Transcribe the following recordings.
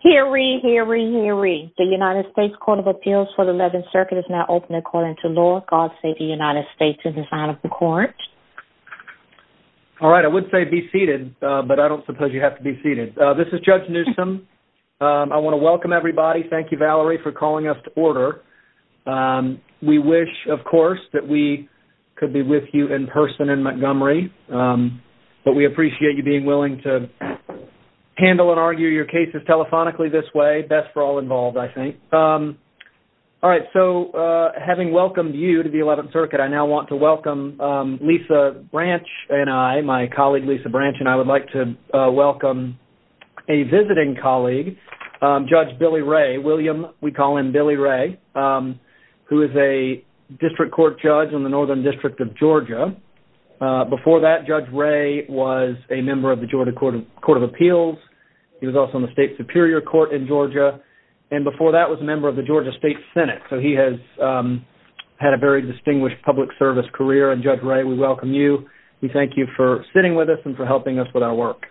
Hear ye, hear ye, hear ye. The United States Court of Appeals for the 11th Circuit is now open according to law. God save the United States in the sign of the court. All right, I would say be seated, but I don't suppose you have to be seated. This is Judge Newsom. I want to welcome everybody. Thank you, Valerie, for calling us to order. We wish, of course, that we could be with you in person in Montgomery, but we appreciate you being willing to handle and argue your cases telephonically this way. Best for all involved, I think. All right, so having welcomed you to the 11th Circuit, I now want to welcome Lisa Branch and I, my colleague Lisa Branch, and I would like to welcome a visiting colleague, Judge Billy Ray. William, we call him Billy Ray, who is a District Court Judge in the Northern District of Georgia. Before that, Judge Ray was a member of the Georgia Court of Appeals. He was also on the State Superior Court in Georgia, and before that was a member of the Georgia State Senate, so he has had a very distinguished public service career. And, Judge Ray, we welcome you. We thank you for sitting with us and for helping us with our work.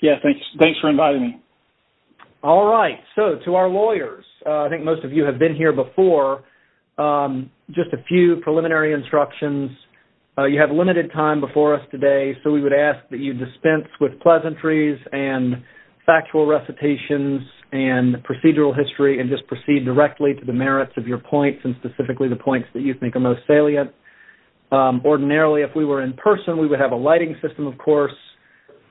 Yes, thanks for inviting me. All right, so to our lawyers, I think most of you have been here before, just a few preliminary instructions. You have limited time before us today, so we would ask that you dispense with pleasantries and factual recitations and procedural history and just proceed directly to the merits of your points and specifically the points that you think are most salient. Ordinarily, if we were in person, we would have a lighting system, of course.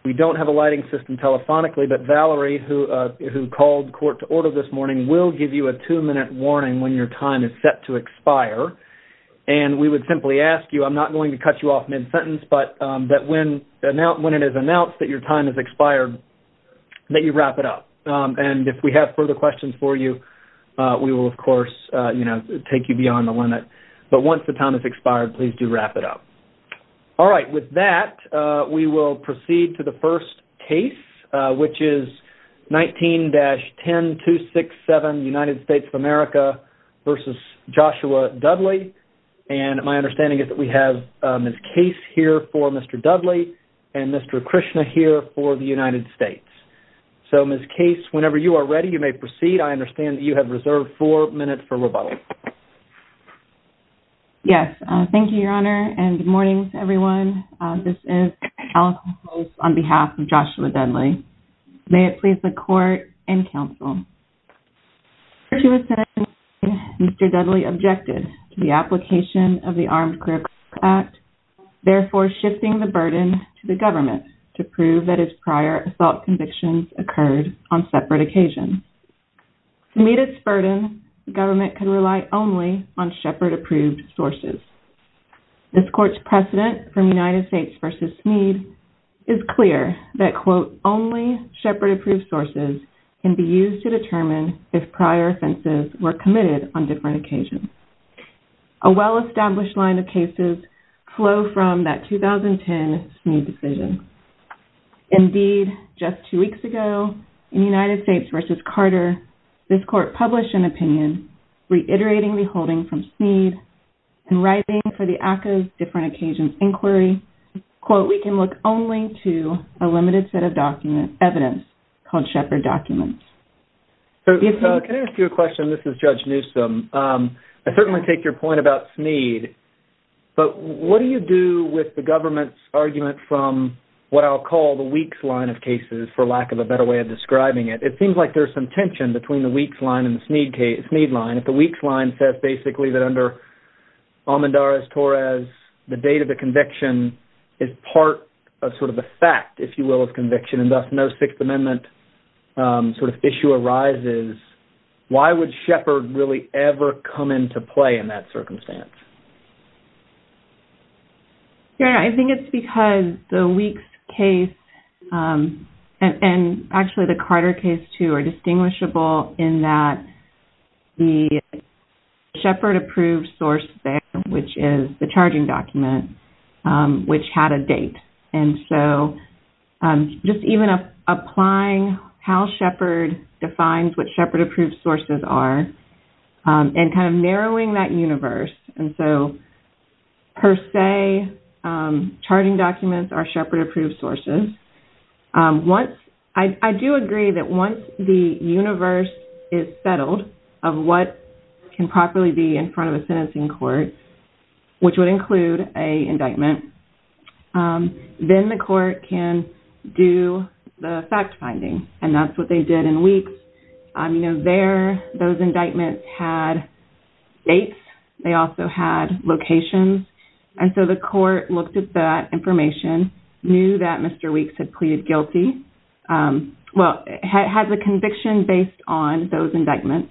We don't have a lighting system telephonically, but Valerie, who called court to order this morning, will give you a two-minute warning when your time is set to expire. And we would simply ask you, I'm not going to cut you off mid-sentence, but that when it is announced that your time has expired, that you wrap it up. And if we have further questions for you, we will, of course, take you beyond the limit. But once the time has expired, please do wrap it up. All right, with that, we will proceed to the first case, which is 19-10267, United States of America v. Joshua Dudley. And my understanding is that we have Ms. Case here for Mr. Dudley and Mr. Krishna here for the United States. So, Ms. Case, whenever you are ready, you may proceed. I understand that you have reserved four minutes for rebuttal. Yes, thank you, Your Honor, and good morning, everyone. This is Allison Holmes on behalf of Joshua Dudley. May it please the Court and Counsel. Prior to his sentencing, Mr. Dudley objected to the application of the Armed Career Court Act, therefore shifting the burden to the government to prove that his prior assault convictions occurred on separate occasions. To meet its burden, the government could rely only on Shepard-approved sources. This Court's precedent from United States v. Smead is clear that, quote, A well-established line of cases flow from that 2010 Smead decision. Indeed, just two weeks ago, in United States v. Carter, this Court published an opinion reiterating the holding from Smead and writing for the ACCA's Different Occasions Inquiry, quote, Can I ask you a question? This is Judge Newsom. I certainly take your point about Smead, but what do you do with the government's argument from what I'll call the Weeks line of cases, for lack of a better way of describing it? It seems like there's some tension between the Weeks line and the Smead line. If the Weeks line says, basically, that under Amandares-Torres, the date of the conviction is part of sort of the fact, if you will, of conviction, and thus no Sixth Amendment sort of issue arises, why would Shepard really ever come into play in that circumstance? Yeah, I think it's because the Weeks case and actually the Carter case, too, were distinguishable in that the Shepard-approved source there, which is the charging document, which had a date. And so just even applying how Shepard defines what Shepard-approved sources are and kind of narrowing that universe, and so per se, charging documents are Shepard-approved sources. I do agree that once the universe is settled of what can properly be in front of a sentencing court, which would include an indictment, then the court can do the fact-finding. And that's what they did in Weeks. You know, there, those indictments had dates. They also had locations. And so the court looked at that information, knew that Mr. Weeks had pleaded guilty, well, had the conviction based on those indictments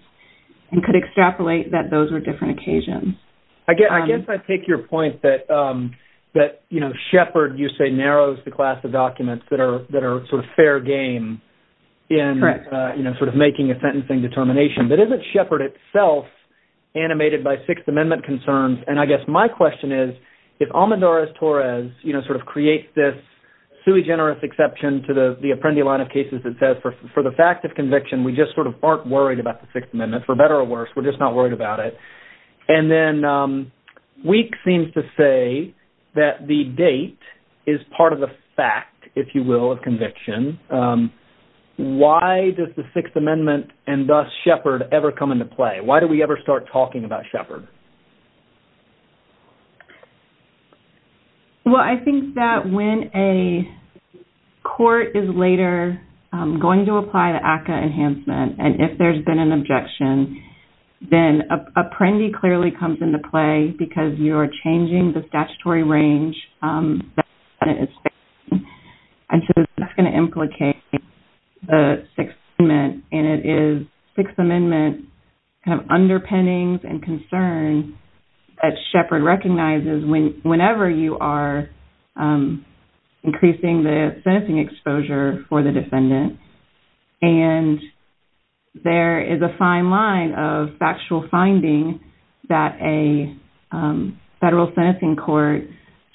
and could extrapolate that those were different occasions. I guess I take your point that, you know, Shepard, you say, narrows the class of documents that are sort of fair game in sort of making a sentencing determination. But isn't Shepard itself animated by Sixth Amendment concerns? And I guess my question is, if Almendarez-Torres, you know, sort of creates this sui generis exception to the Apprendi line of cases that says for the fact of conviction, we just sort of aren't worried about the Sixth Amendment, for better or worse, we're just not worried about it, and then Weeks seems to say that the date is part of the fact, if you will, of conviction, why does the Sixth Amendment and thus Shepard ever come into play? Why do we ever start talking about Shepard? Well, I think that when a court is later going to apply the ACCA enhancement and if there's been an objection, then Apprendi clearly comes into play because you're changing the statutory range that the Senate is facing, and so that's going to implicate the Sixth Amendment, and it is Sixth Amendment kind of underpinnings and concerns that Shepard recognizes whenever you are increasing the sentencing exposure for the defendant, and there is a fine line of factual finding that a federal sentencing court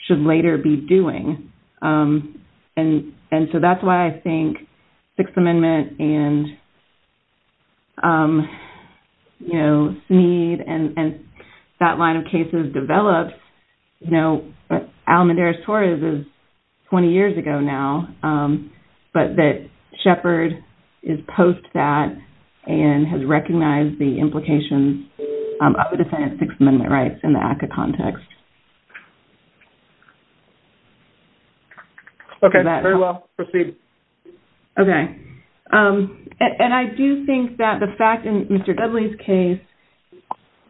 should later be doing. And so that's why I think Sixth Amendment and Snead and that line of cases developed, you know, Alamedares-Torres is 20 years ago now, but that Shepard is post that and has recognized the implications of the defendant's Sixth Amendment rights in the ACCA context. Okay. Very well. Proceed. Okay. And I do think that the fact in Mr. Dudley's case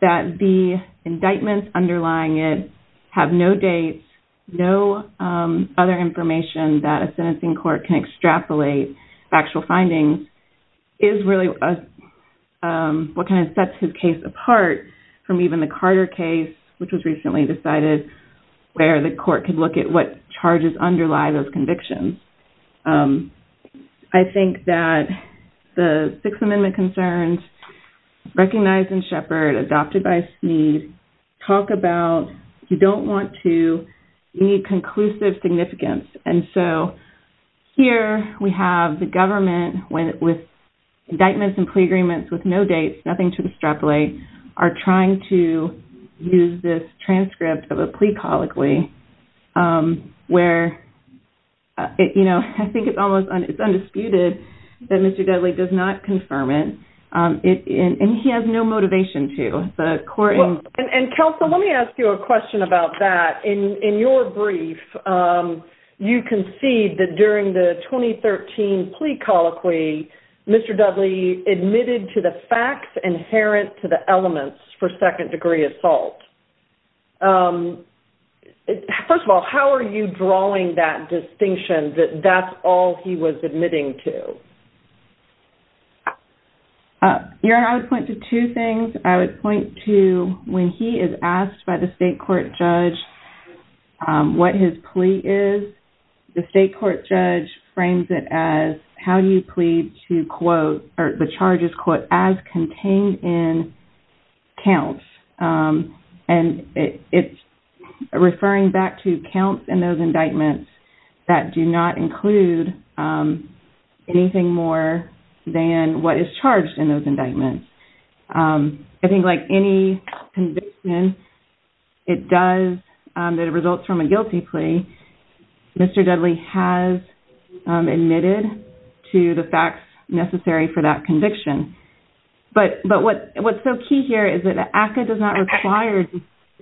that the indictments underlying it have no dates, no other information that a sentencing court can extrapolate factual findings is really what kind of sets his case apart from even the Carter case, which was recently decided, where the court could look at what charges underlie those convictions. I think that the Sixth Amendment concerns recognized in Shepard, adopted by Snead, talk about you don't want to, you need conclusive significance. And so here we have the government with indictments and plea agreements with no dates, nothing to extrapolate, and we are trying to use this transcript of a plea colloquy where, you know, I think it's almost, it's undisputed that Mr. Dudley does not confirm it. And he has no motivation to. And Counsel, let me ask you a question about that. In your brief, you concede that during the 2013 plea colloquy, Mr. Dudley admitted to the facts inherent to the elements for second degree assault. First of all, how are you drawing that distinction that that's all he was admitting to? I would point to two things. I would point to when he is asked by the state court judge what his plea is, the state court judge frames it as how do you plead to quote, or the charges quote, as contained in counts. And it's referring back to counts in those indictments that do not include anything more than what is charged in those indictments. I think like any conviction, it does, it results from a guilty plea. Mr. Dudley has admitted to the facts necessary for that conviction. But what's so key here is that ACCA does not require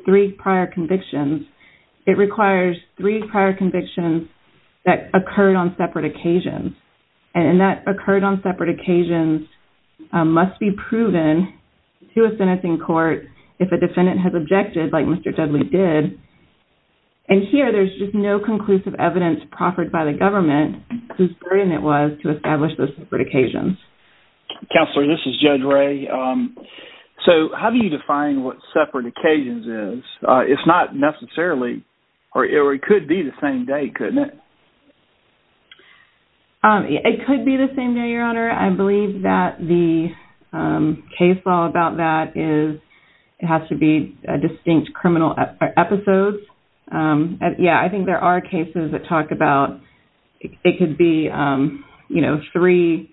three prior convictions. It requires three prior convictions that occurred on separate occasions. And that occurred on separate occasions must be proven to a sentencing court if a defendant has objected like Mr. Dudley did. And here there's just no conclusive evidence proffered by the government whose burden it was to establish those separate occasions. Counselor, this is Judge Ray. So how do you define what separate occasions is? It's not necessarily, or it could be the same day, couldn't it? It could be the same day, Your Honor. I believe that the case law about that is, it has to be distinct criminal episodes. Yeah, I think there are cases that talk about, it could be, you know, three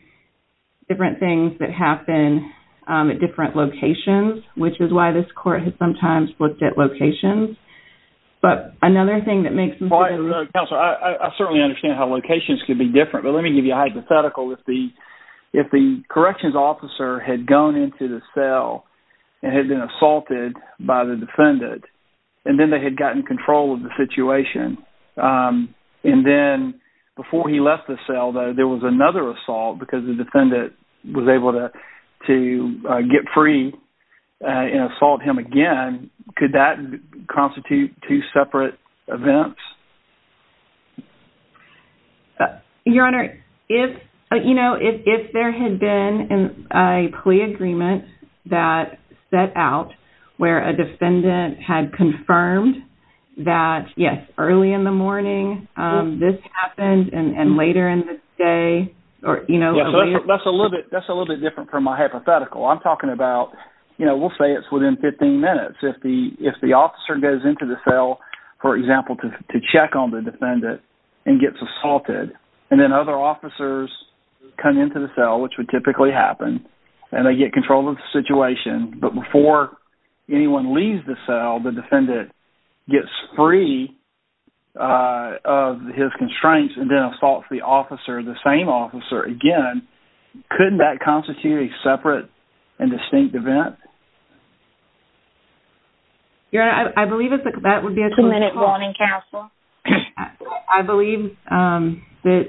different things that happen at different locations, which is why this court has sometimes looked at locations. But another thing that makes me... Counselor, I certainly understand how locations could be different, but let me give you a hypothetical. If the corrections officer had gone into the cell and had been assaulted by the defendant, and then they had gotten control of the situation, and then before he left the cell there was another assault because the defendant was able to get free and assault him again, could that constitute two separate events? Your Honor, if, you know, if there had been a plea agreement that set out where a defendant had confirmed that, yes, early in the morning this happened and later in the day, or, you know... That's a little bit different from my hypothetical. I'm talking about, you know, we'll say it's within 15 minutes. If the officer goes into the cell, for example, to check on the defendant and gets assaulted, and then other officers come into the cell, which would typically happen, and they get control of the situation, but before anyone leaves the cell, the defendant gets free of his constraints and then assaults the officer, the same officer again, couldn't that constitute a separate and distinct event? Your Honor, I believe that would be... Two minutes warning, counsel. I believe that...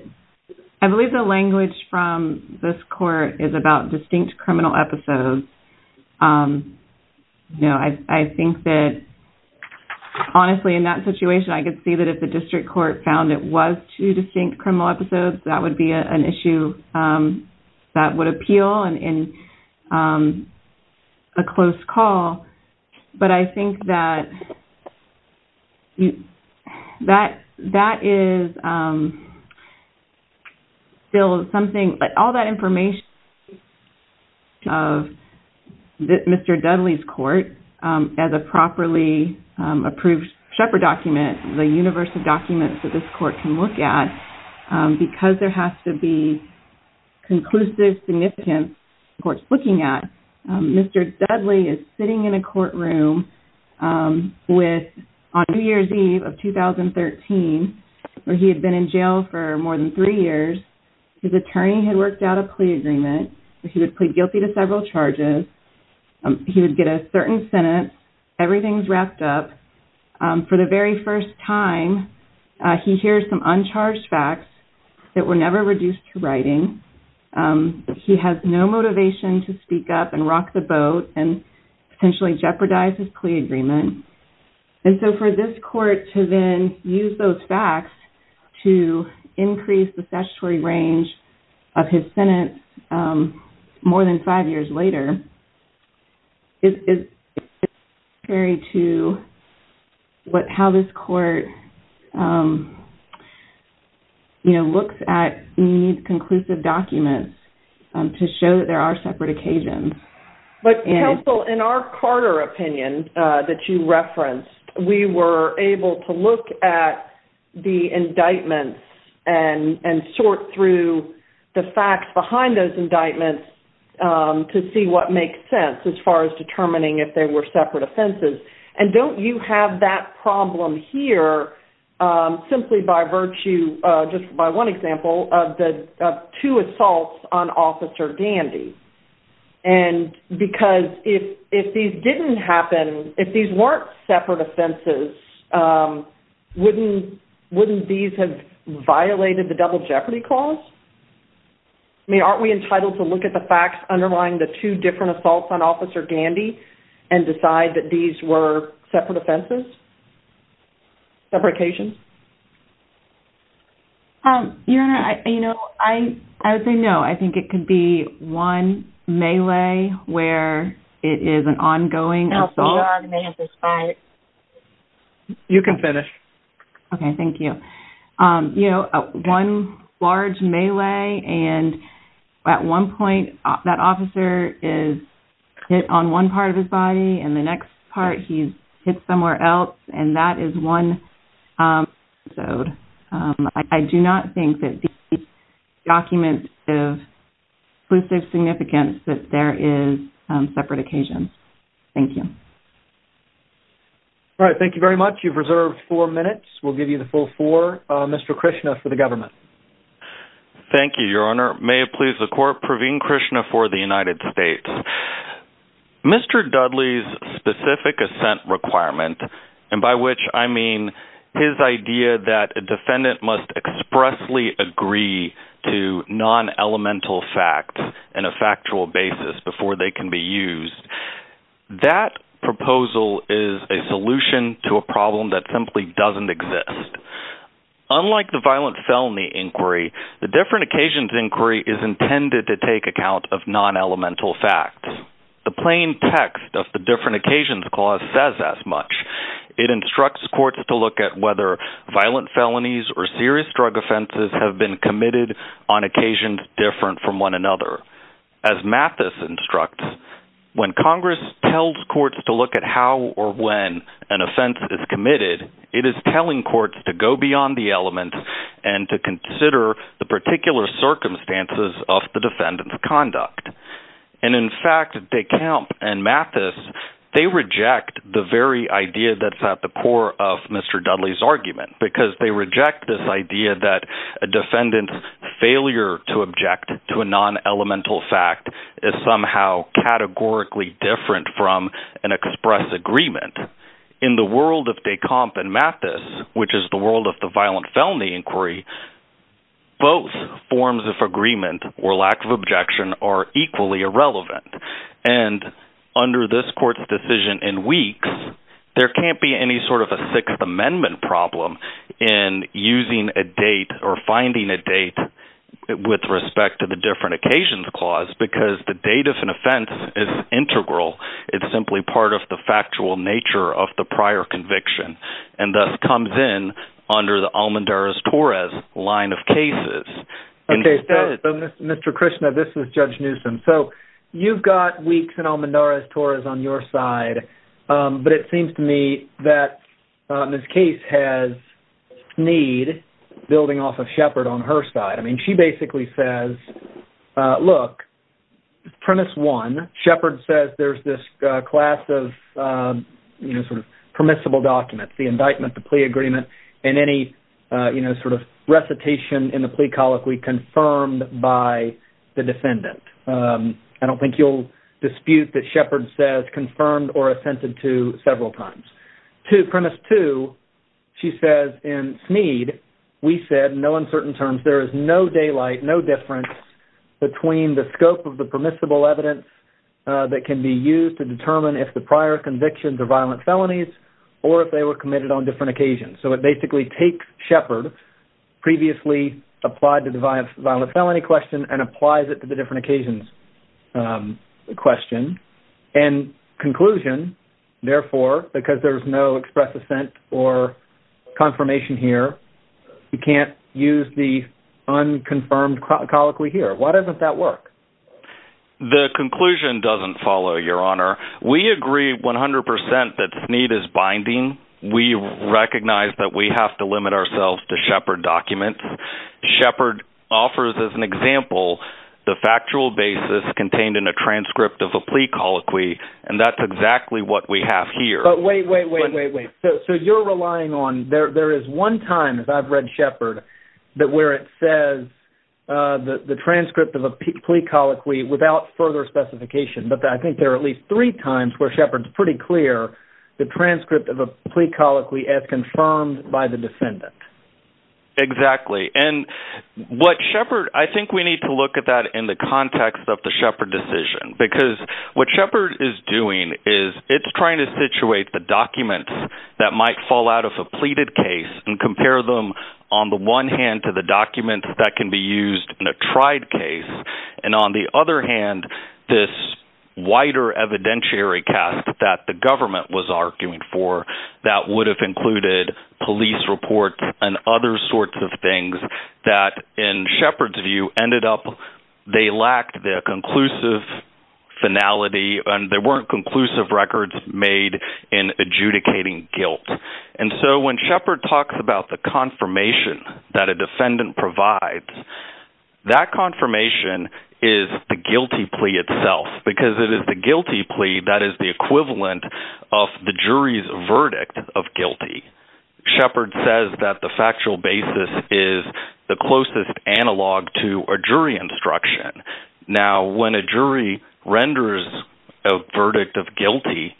I believe the language from this court is about distinct criminal episodes. You know, I think that, honestly, in that situation, I could see that if the district court found it was two distinct criminal episodes, that would be an issue that would appeal, I think, to the district court as well, and a close call, but I think that... That is... Still, something... All that information of Mr. Dudley's court as a properly approved Shepard document, the universe of documents that this court can look at, because there has to be conclusive significance in what it's looking at, Mr. Dudley is sitting in a courtroom with, on New Year's Eve of 2013, where he had been in jail for more than three years, his attorney had worked out a plea agreement, he would plead guilty to several charges, he would get a certain sentence, everything's wrapped up, for the very first time, he hears some uncharged facts that were never reduced to writing, he has no motivation to speak up and rock the boat and potentially jeopardize his plea agreement, and so for this court to then use those facts to increase the statutory range of his sentence more than five years later, is... Contrary to how this court looks at conclusive documents to show that there are separate occasions. But counsel, in our Carter opinion that you referenced, we were able to look at the indictments and sort through the facts behind those indictments to see what makes sense as far as determining if they were separate offenses. And don't you have that problem here, simply by virtue just by one example, of two assaults on Officer Dandy? And because if these didn't happen, if these weren't separate offenses, wouldn't these have violated the double jeopardy clause? I mean, aren't we entitled to look at the facts underlying the two different assaults on Officer Dandy and decide that these were separate offenses? Separate occasions? Your Honor, you know, I would say no. I think it could be one melee where it is an ongoing assault. You can finish. Okay, thank you. You know, one large melee and at one point that officer is hit on one part of his body and the next part he's hit somewhere else and that is one episode. I do not think that these documents have exclusive significance that there is separate occasions. Thank you. All right, thank you very much. You've reserved four minutes. We'll give you the full four. Mr. Krishna for the government. Thank you, Your Honor. May it please the Court, Praveen Krishna for the United States. Mr. Dudley's specific assent requirement, and by which I mean his idea that a defendant must expressly agree to non-elemental facts in a factual basis before they can be used, that proposal is a solution to a problem that simply doesn't exist. Unlike the violent felony inquiry, the different occasions inquiry is intended to take account of non-elemental facts. The plain text of the different occasions clause says as much. It instructs courts to look at whether violent felonies or serious drug offenses have been committed on occasions different from one another. As Mathis instructs, when Congress tells courts to look at how or when an offense is to go beyond the element and to consider the particular circumstances of the defendant's conduct. And in fact de Camp and Mathis, they reject the very idea that's at the core of Mr. Dudley's argument, because they reject this idea that a defendant's failure to object to a non-elemental fact is somehow categorically different from an express agreement. In the world of de Camp and Mathis, which is the world of the violent felony inquiry, both forms of agreement or lack of objection are equally irrelevant. And under this court's decision in weeks, there can't be any sort of a Sixth Amendment problem in using a date or finding a date with respect to the different occasions clause, because the date of an offense is integral. It's simply part of the factual nature of the prior conviction, and thus comes in under the Almendarez-Torres line of cases. Mr. Krishna, this is Judge Newsom. So you've got weeks in Almendarez-Torres on your side, but it seems to me that Ms. Case has need building off of Shepard on her side. I mean, she basically says look, premise one, Shepard says there's this class of permissible documents, the indictment, the plea agreement, and any sort of recitation in the plea colloquy confirmed by the defendant. I don't think you'll dispute that Shepard says confirmed or assented to several times. Premise two, she says in Smead, we said, no uncertain terms, there is no daylight, no difference between the scope of the permissible evidence that can be used to determine if the prior convictions are violent felonies, or if they were committed on different occasions. So it basically takes Shepard, previously applied to the violent felony question, and applies it to the different occasions question, and conclusion, therefore, because there's no express assent or confirmation here, you can't use the unconfirmed colloquy here. Why doesn't that work? The conclusion doesn't follow, Your Honor. We agree 100% that Smead is binding. We recognize that we have to limit ourselves to Shepard documents. Shepard offers, as an example, the factual basis contained in a transcript of a plea colloquy, and that's exactly what we have here. But wait, wait, wait, wait, wait. So you're relying on there is one time that I've read Shepard that where it says the transcript of a plea colloquy without further specification, but I think there are at least three times where Shepard's pretty clear the transcript of a plea colloquy as confirmed by the defendant. Exactly. And what Shepard, I think we need to look at that in the context of the Shepard decision, because what Shepard is doing is it's trying to situate the document that might fall out of a pleaded case, and compare them on the one hand to the document that can be used in a tried case, and on the other hand, this wider evidentiary cast that the government was arguing for that would have included police reports and other sorts of things that in Shepard's view ended up, they lacked the conclusive finality, and there weren't conclusive records made in adjudicating guilt. And so when Shepard talks about the confirmation that a defendant provides, that confirmation is the guilty plea itself because it is the guilty plea that is the equivalent of the jury's verdict of guilty. Shepard says that the factual basis is the closest analog to a jury instruction. Now, when a jury renders a verdict of guilty,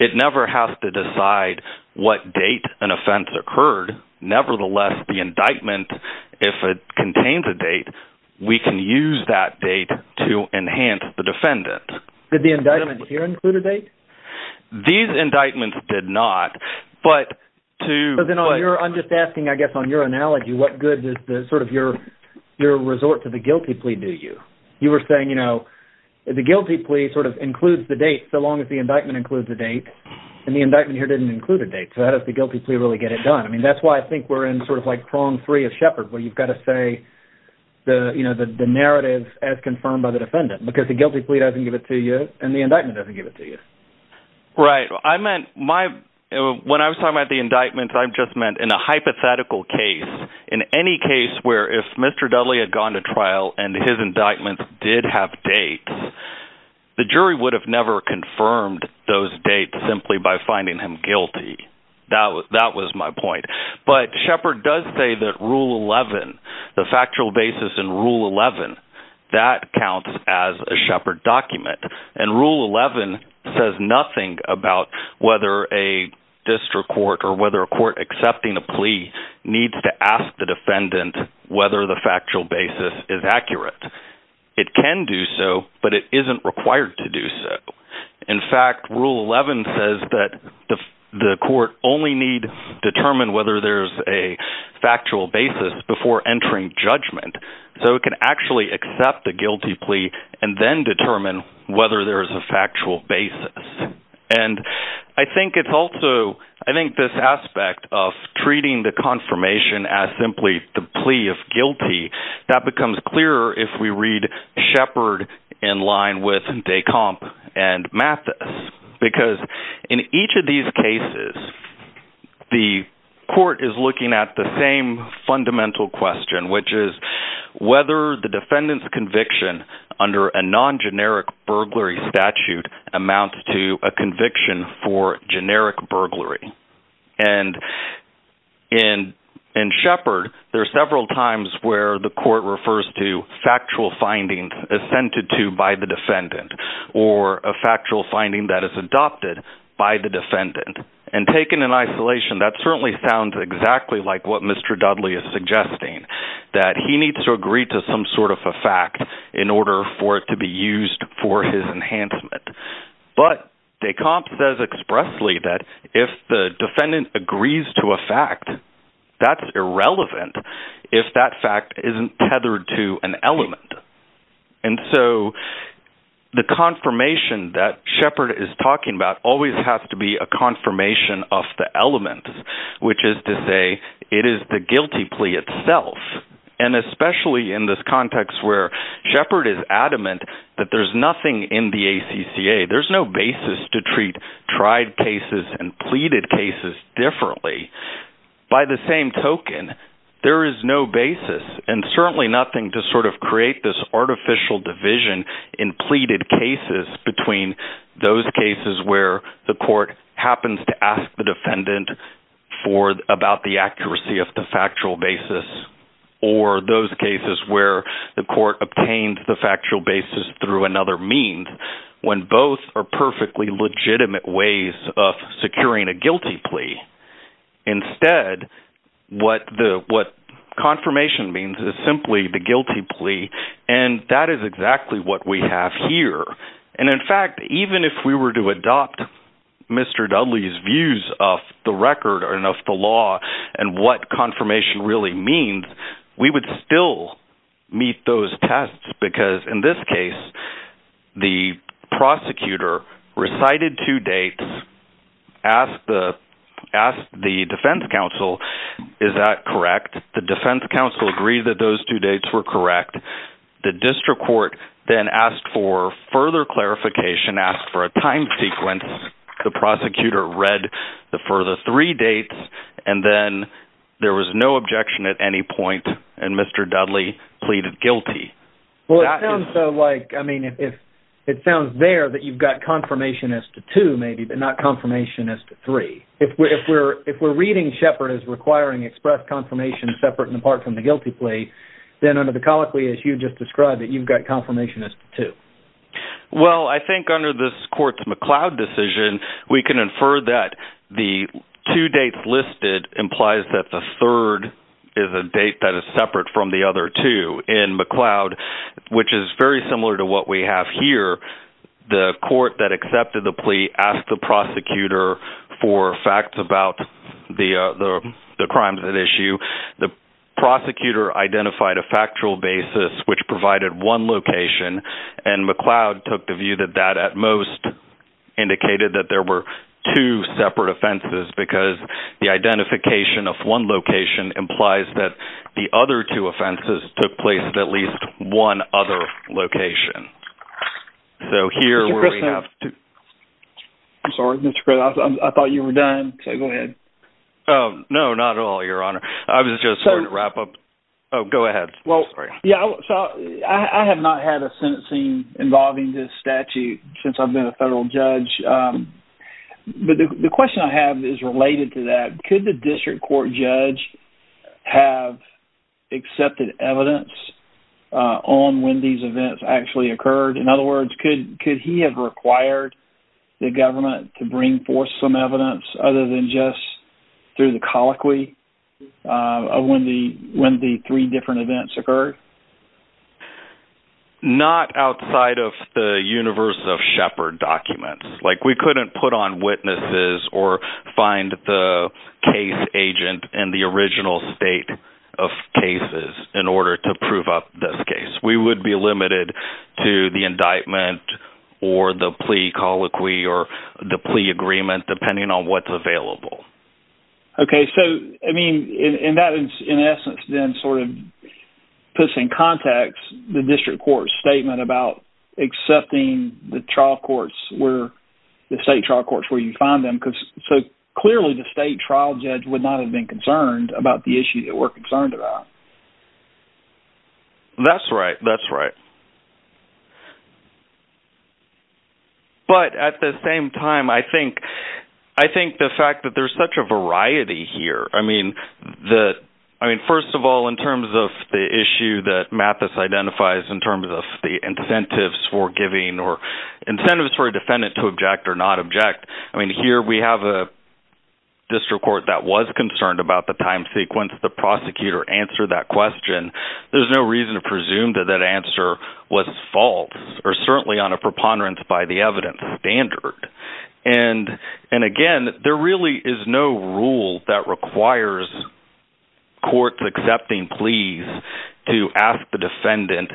it never has to decide what date an offense occurred. Nevertheless, the indictment, if it contains a date, we can use that date to enhance the defendant. Did the indictment here include a date? These indictments did not, but I'm just asking, I guess, on your analogy, what good does your resort to the guilty plea do you? You were saying, you know, the guilty plea sort of includes the date, so long as the indictment includes the date. So how does the guilty plea really get it done? I mean, that's why I think we're in sort of like prong three of Shepard, where you've got to say the narrative as confirmed by the defendant, because the guilty plea doesn't give it to you, and the indictment doesn't give it to you. Right. I meant, when I was talking about the indictment, I just meant in a hypothetical case, in any case where if Mr. Dudley had gone to trial and his indictment did have dates, the jury would have never confirmed those guilty. That was my point. But Shepard does say that Rule 11, the factual basis in Rule 11, that counts as a Shepard document, and Rule 11 says nothing about whether a district court or whether a court accepting a plea needs to ask the defendant whether the factual basis is accurate. It can do so, but it isn't required to do so. In fact, Rule 11 says that the court only needs to determine whether there's a factual basis before entering judgment. So it can actually accept the guilty plea and then determine whether there's a factual basis. And I think it's also, I think this aspect of treating the confirmation as simply the plea of guilty, that becomes clearer if we read Shepard in line with Komp and Mathis. Because in each of these cases, the court is looking at the same fundamental question, which is whether the defendant's conviction under a non-generic burglary statute amounts to a conviction for generic burglary. And in Shepard, there are several times where the court refers to factual findings assented to by the defendant, or a factual finding that is adopted by the defendant. And taken in isolation, that certainly sounds exactly like what Mr. Dudley is suggesting, that he needs to agree to some sort of a fact in order for it to be used for his enhancement. But de Komp says expressly that if the defendant agrees to a fact, that's irrelevant if that fact isn't tethered to an element. And so the confirmation that Shepard is talking about always has to be a confirmation of the element, which is to say it is the guilty plea itself. And especially in this context where Shepard is adamant that there's nothing in the ACCA, there's no basis to treat tried cases and pleaded cases differently. By the same token, there is no basis, and certainly nothing to sort of create this artificial division in pleaded cases between those cases where the court happens to ask the defendant about the accuracy of the factual basis, or those cases where the court obtains the factual basis through another means, when both are perfectly legitimate ways of securing a guilty plea. Instead, what confirmation means is simply the guilty plea, and that is exactly what we have here. And in fact, even if we were to adopt Mr. Dudley's views of the record and of the law, and what confirmation really means, we would still meet those tests, because in this case, the prosecutor recited two dates, asked the defense counsel, is that correct? The defense counsel agreed that those two dates were correct. The district court then asked for further clarification, asked for a time sequence. The prosecutor read the further three dates, and then there was no objection at any point, and Mr. Dudley pleaded guilty. Well, it sounds like, I mean, it sounds there that you've got confirmation as to two, maybe, but not confirmation as to three. If we're reading Shepard as requiring express confirmation separate and apart from the guilty plea, then under the colloquy as you just described, that you've got confirmation as to two. Well, I think under this court's McLeod decision, we can infer that the two dates listed implies that the third is a date that is separate from the other two. In McLeod, which is very similar to what we have here, the court that accepted the plea asked the prosecutor for facts about the crimes at issue. The prosecutor identified a factual basis which provided one location, and McLeod took the view that that, at most, indicated that there were two separate offenses, because the identification of one location implies that the other two offenses took place at least one other location. Mr. Chris, I'm sorry. I thought you were done. Oh, no, not at all, Your Honor. I was just going to wrap up. Oh, go ahead. I have not had a sentencing involving this statute since I've been a federal judge. The question I have is related to that. Could the district court judge have accepted evidence on when these events actually occurred? In other words, could he have required the government to bring forth some evidence other than just through the colloquy of when the three different events occurred? Not outside of the universe of Shepard documents. We couldn't put on witnesses or find the case agent in the original state of cases in order to prove up this case. We would be limited to the indictment or the plea colloquy or the plea agreement depending on what's available. That, in essence, then puts in context the district court's statement about accepting the trial courts where you find them. Clearly, the state trial judge would not have been concerned about the issue that we're concerned about. That's right. At the same time, I think the fact that there's such a variety here. First of all, in terms of the issue that Mathis identifies in terms of the incentives for giving or incentives for a defendant to not object, here we have a district court that was concerned about the time sequence the prosecutor answered that question. There's no reason to presume that that answer was false or certainly on a preponderance by the evidence standard. Again, there really is no rule that requires courts accepting pleas to ask the defendant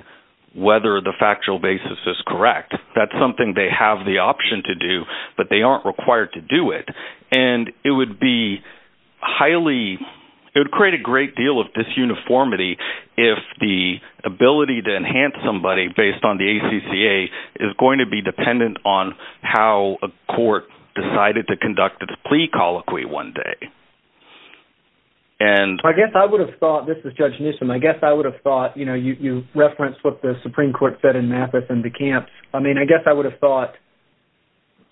whether the factual basis is correct. That's something they have the option to do, but they aren't required to do it. It would create a great deal of disuniformity if the ability to enhance somebody based on the ACCA is going to be dependent on how a court decided to conduct its plea colloquy one day. This is Judge Newsom. I guess I would have thought you referenced what the Supreme Court said in Mathis and DeCamps. I guess I would have thought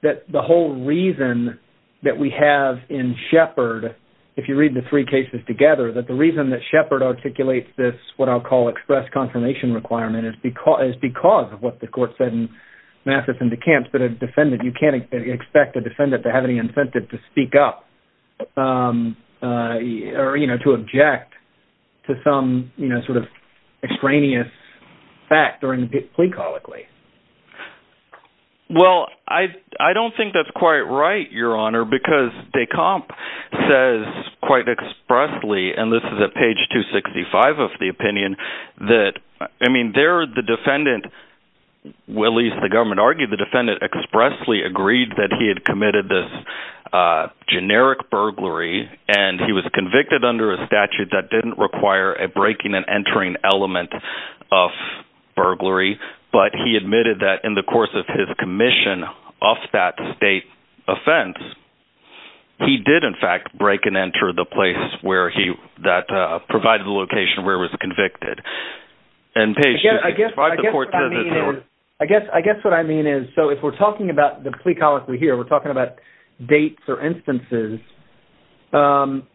that the whole reason that we have in Shepard if you read the three cases together, that the reason that Shepard articulates this what I'll call express confirmation requirement is because of what the court said in Mathis and DeCamps that you can't expect a defendant to have any incentive to speak up or to object to some extraneous fact during the plea colloquy. Well, I don't think that's quite right, Your Honor, because DeCamps says quite expressly, and this is at page 265 of the opinion, that the defendant, at least the government argued the defendant, expressly agreed that he had committed this generic burglary, and he was convicted under a statute that didn't require a breaking and entering element of burglary, but he admitted that in the course of his commission of that state offense, he did in fact break and enter the place that provided the location where he was convicted. I guess what I mean is so if we're talking about the plea colloquy here, we're talking about dates or instances,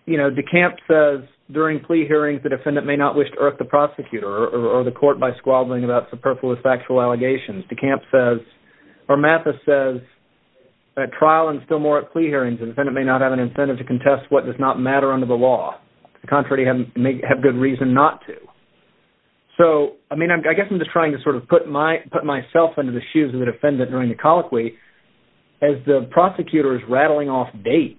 you know, DeCamps says during plea hearings the defendant may not wish to irk the prosecutor or the court by squabbling about superfluous factual allegations. DeCamps says or Mathis says at trial and still more at plea hearings, the defendant may not have an incentive to contest what does not matter under the law. On the contrary, he may have good reason not to. So, I mean, I guess I'm just trying to sort of put myself under the shoes of the defendant during the colloquy as the prosecutor is rattling off dates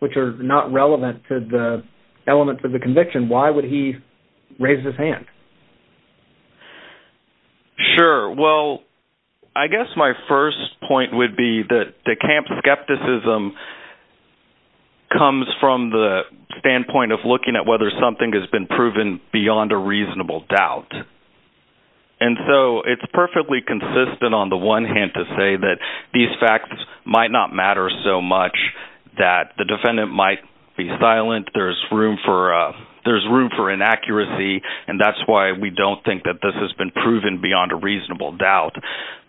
which are not relevant to the elements of the conviction. Why would he raise his hand? Sure. Well, I guess my first point would be that DeCamps' skepticism comes from the standpoint of looking at whether something has been proven beyond a reasonable doubt. And so it's perfectly consistent on the one hand to say that these facts might not matter so much, that the defendant might be silent, there's room for inaccuracy, and that's why we don't think that this has been proven beyond a reasonable doubt.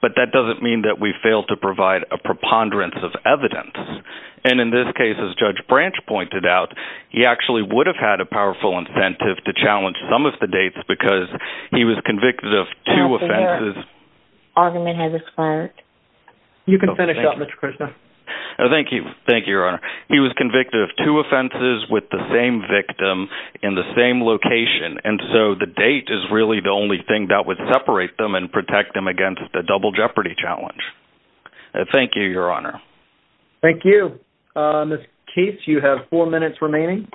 But that doesn't mean that we fail to provide a preponderance of evidence. And in this case, as Judge Branch pointed out, he actually would have had a powerful incentive to challenge some of the dates because he was convicted of two offenses. Argument has expired. You can finish up, Mr. Krishna. Thank you, Your Honor. He was convicted of two offenses with the same victim in the same location, and so the date is really the only thing that would separate them and protect them against a double jeopardy challenge. Thank you, Your Honor. Thank you. Ms. Keiths, you have four minutes remaining.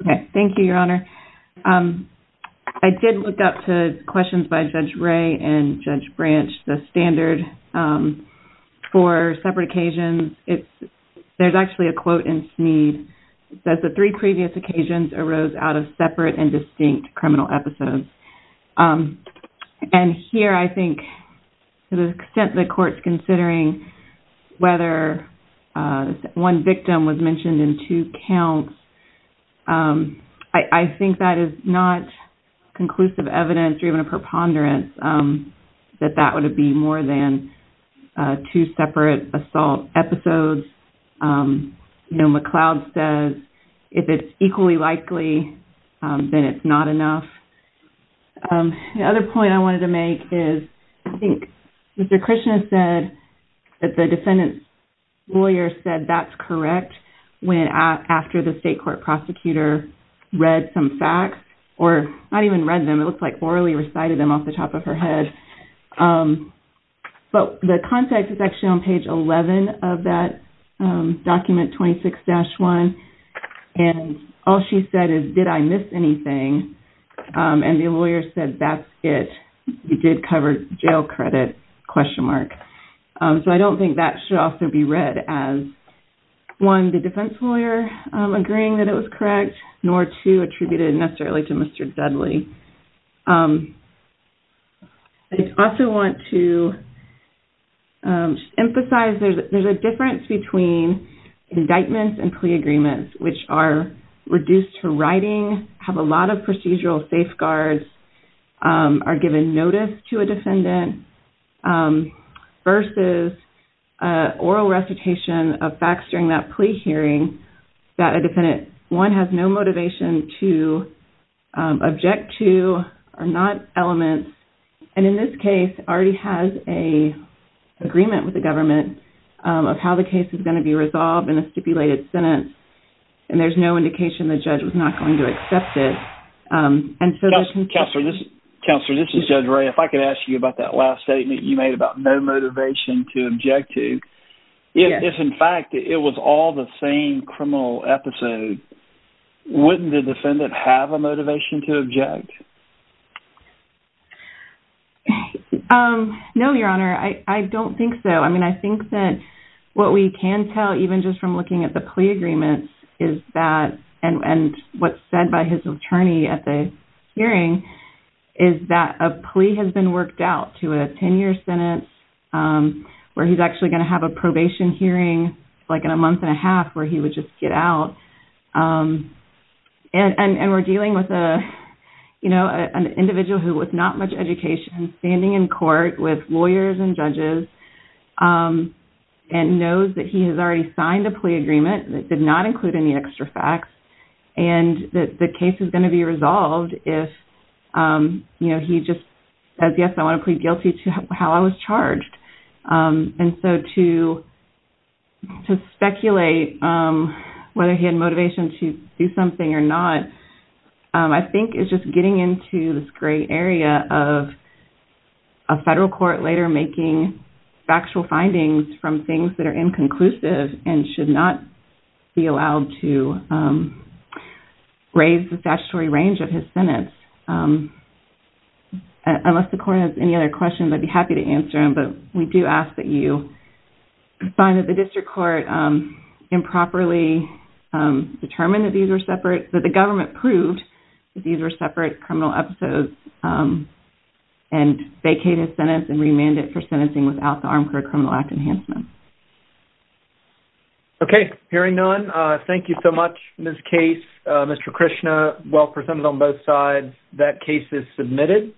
Okay. Thank you, Your Honor. I did look up to questions by Judge Ray and Judge Branch. The standard for separate occasions, there's actually a quote in Sneed that the three previous occasions arose out of separate and distinct criminal episodes. And here, I think to the extent the Court's considering whether one victim was mentioned in two counts, I think that is not conclusive evidence or even a preponderance that that would be more than two separate assault episodes. McLeod says if it's equally likely, then it's not enough. The other point I wanted to make is I think Mr. Krishna said that the defendant's lawyer said that's correct after the state court prosecutor read some facts, or not even read them, it looks like orally recited them off the top of her head. But the context is actually on page 11 of that document, 26-1, and all she said is, did I miss anything? And the lawyer said that's correct, but I don't think it did cover jail credit? So I don't think that should also be read as one, the defense lawyer agreeing that it was correct, nor two, attributed necessarily to Mr. Dudley. I also want to emphasize there's a difference between indictments and plea agreements, which are reduced to writing, have a lot of procedural safeguards, are given notice to a defendant, versus oral recitation of facts during that plea hearing that a defendant, one, has no motivation to object to, are not elements, and in this case already has an agreement with the government of how the case is going to be resolved in a stipulated sentence, and there's no indication the judge was not going to accept it. Counselor, this is Judge Ray. If I could ask you about that last statement you made about no motivation to object to, if in fact it was all the same criminal episode, wouldn't the defendant have a motivation to object? No, Your Honor. I don't think so. I mean, I think that what we can tell, even just from looking at the plea agreements, is that, and what's said by his attorney at the hearing, is that a plea has been worked out to a 10-year sentence, where he's actually going to have a probation hearing, like in a month and a half, where he would just get out. And we're dealing with an individual who with not much education, standing in court with lawyers and judges, and knows that he has already signed a plea agreement that did not include any extra facts and that the case is going to be resolved if he just says, yes, I want to plead guilty to how I was charged. And so to speculate whether he had motivation to do something or not I think is just getting into this gray area of a federal court later making factual findings from things that are inconclusive and should not be allowed to raise the statutory range of his sentence. Unless the court has any other questions, I'd be happy to answer them, but we do ask that you find that the district court improperly determined that these were separate, that the government proved that these were separate criminal episodes and vacated his sentence and that there was a lack of enhancement. Okay. Hearing none, thank you so much, Ms. Case. Mr. Krishna, well presented on both sides. That case is submitted.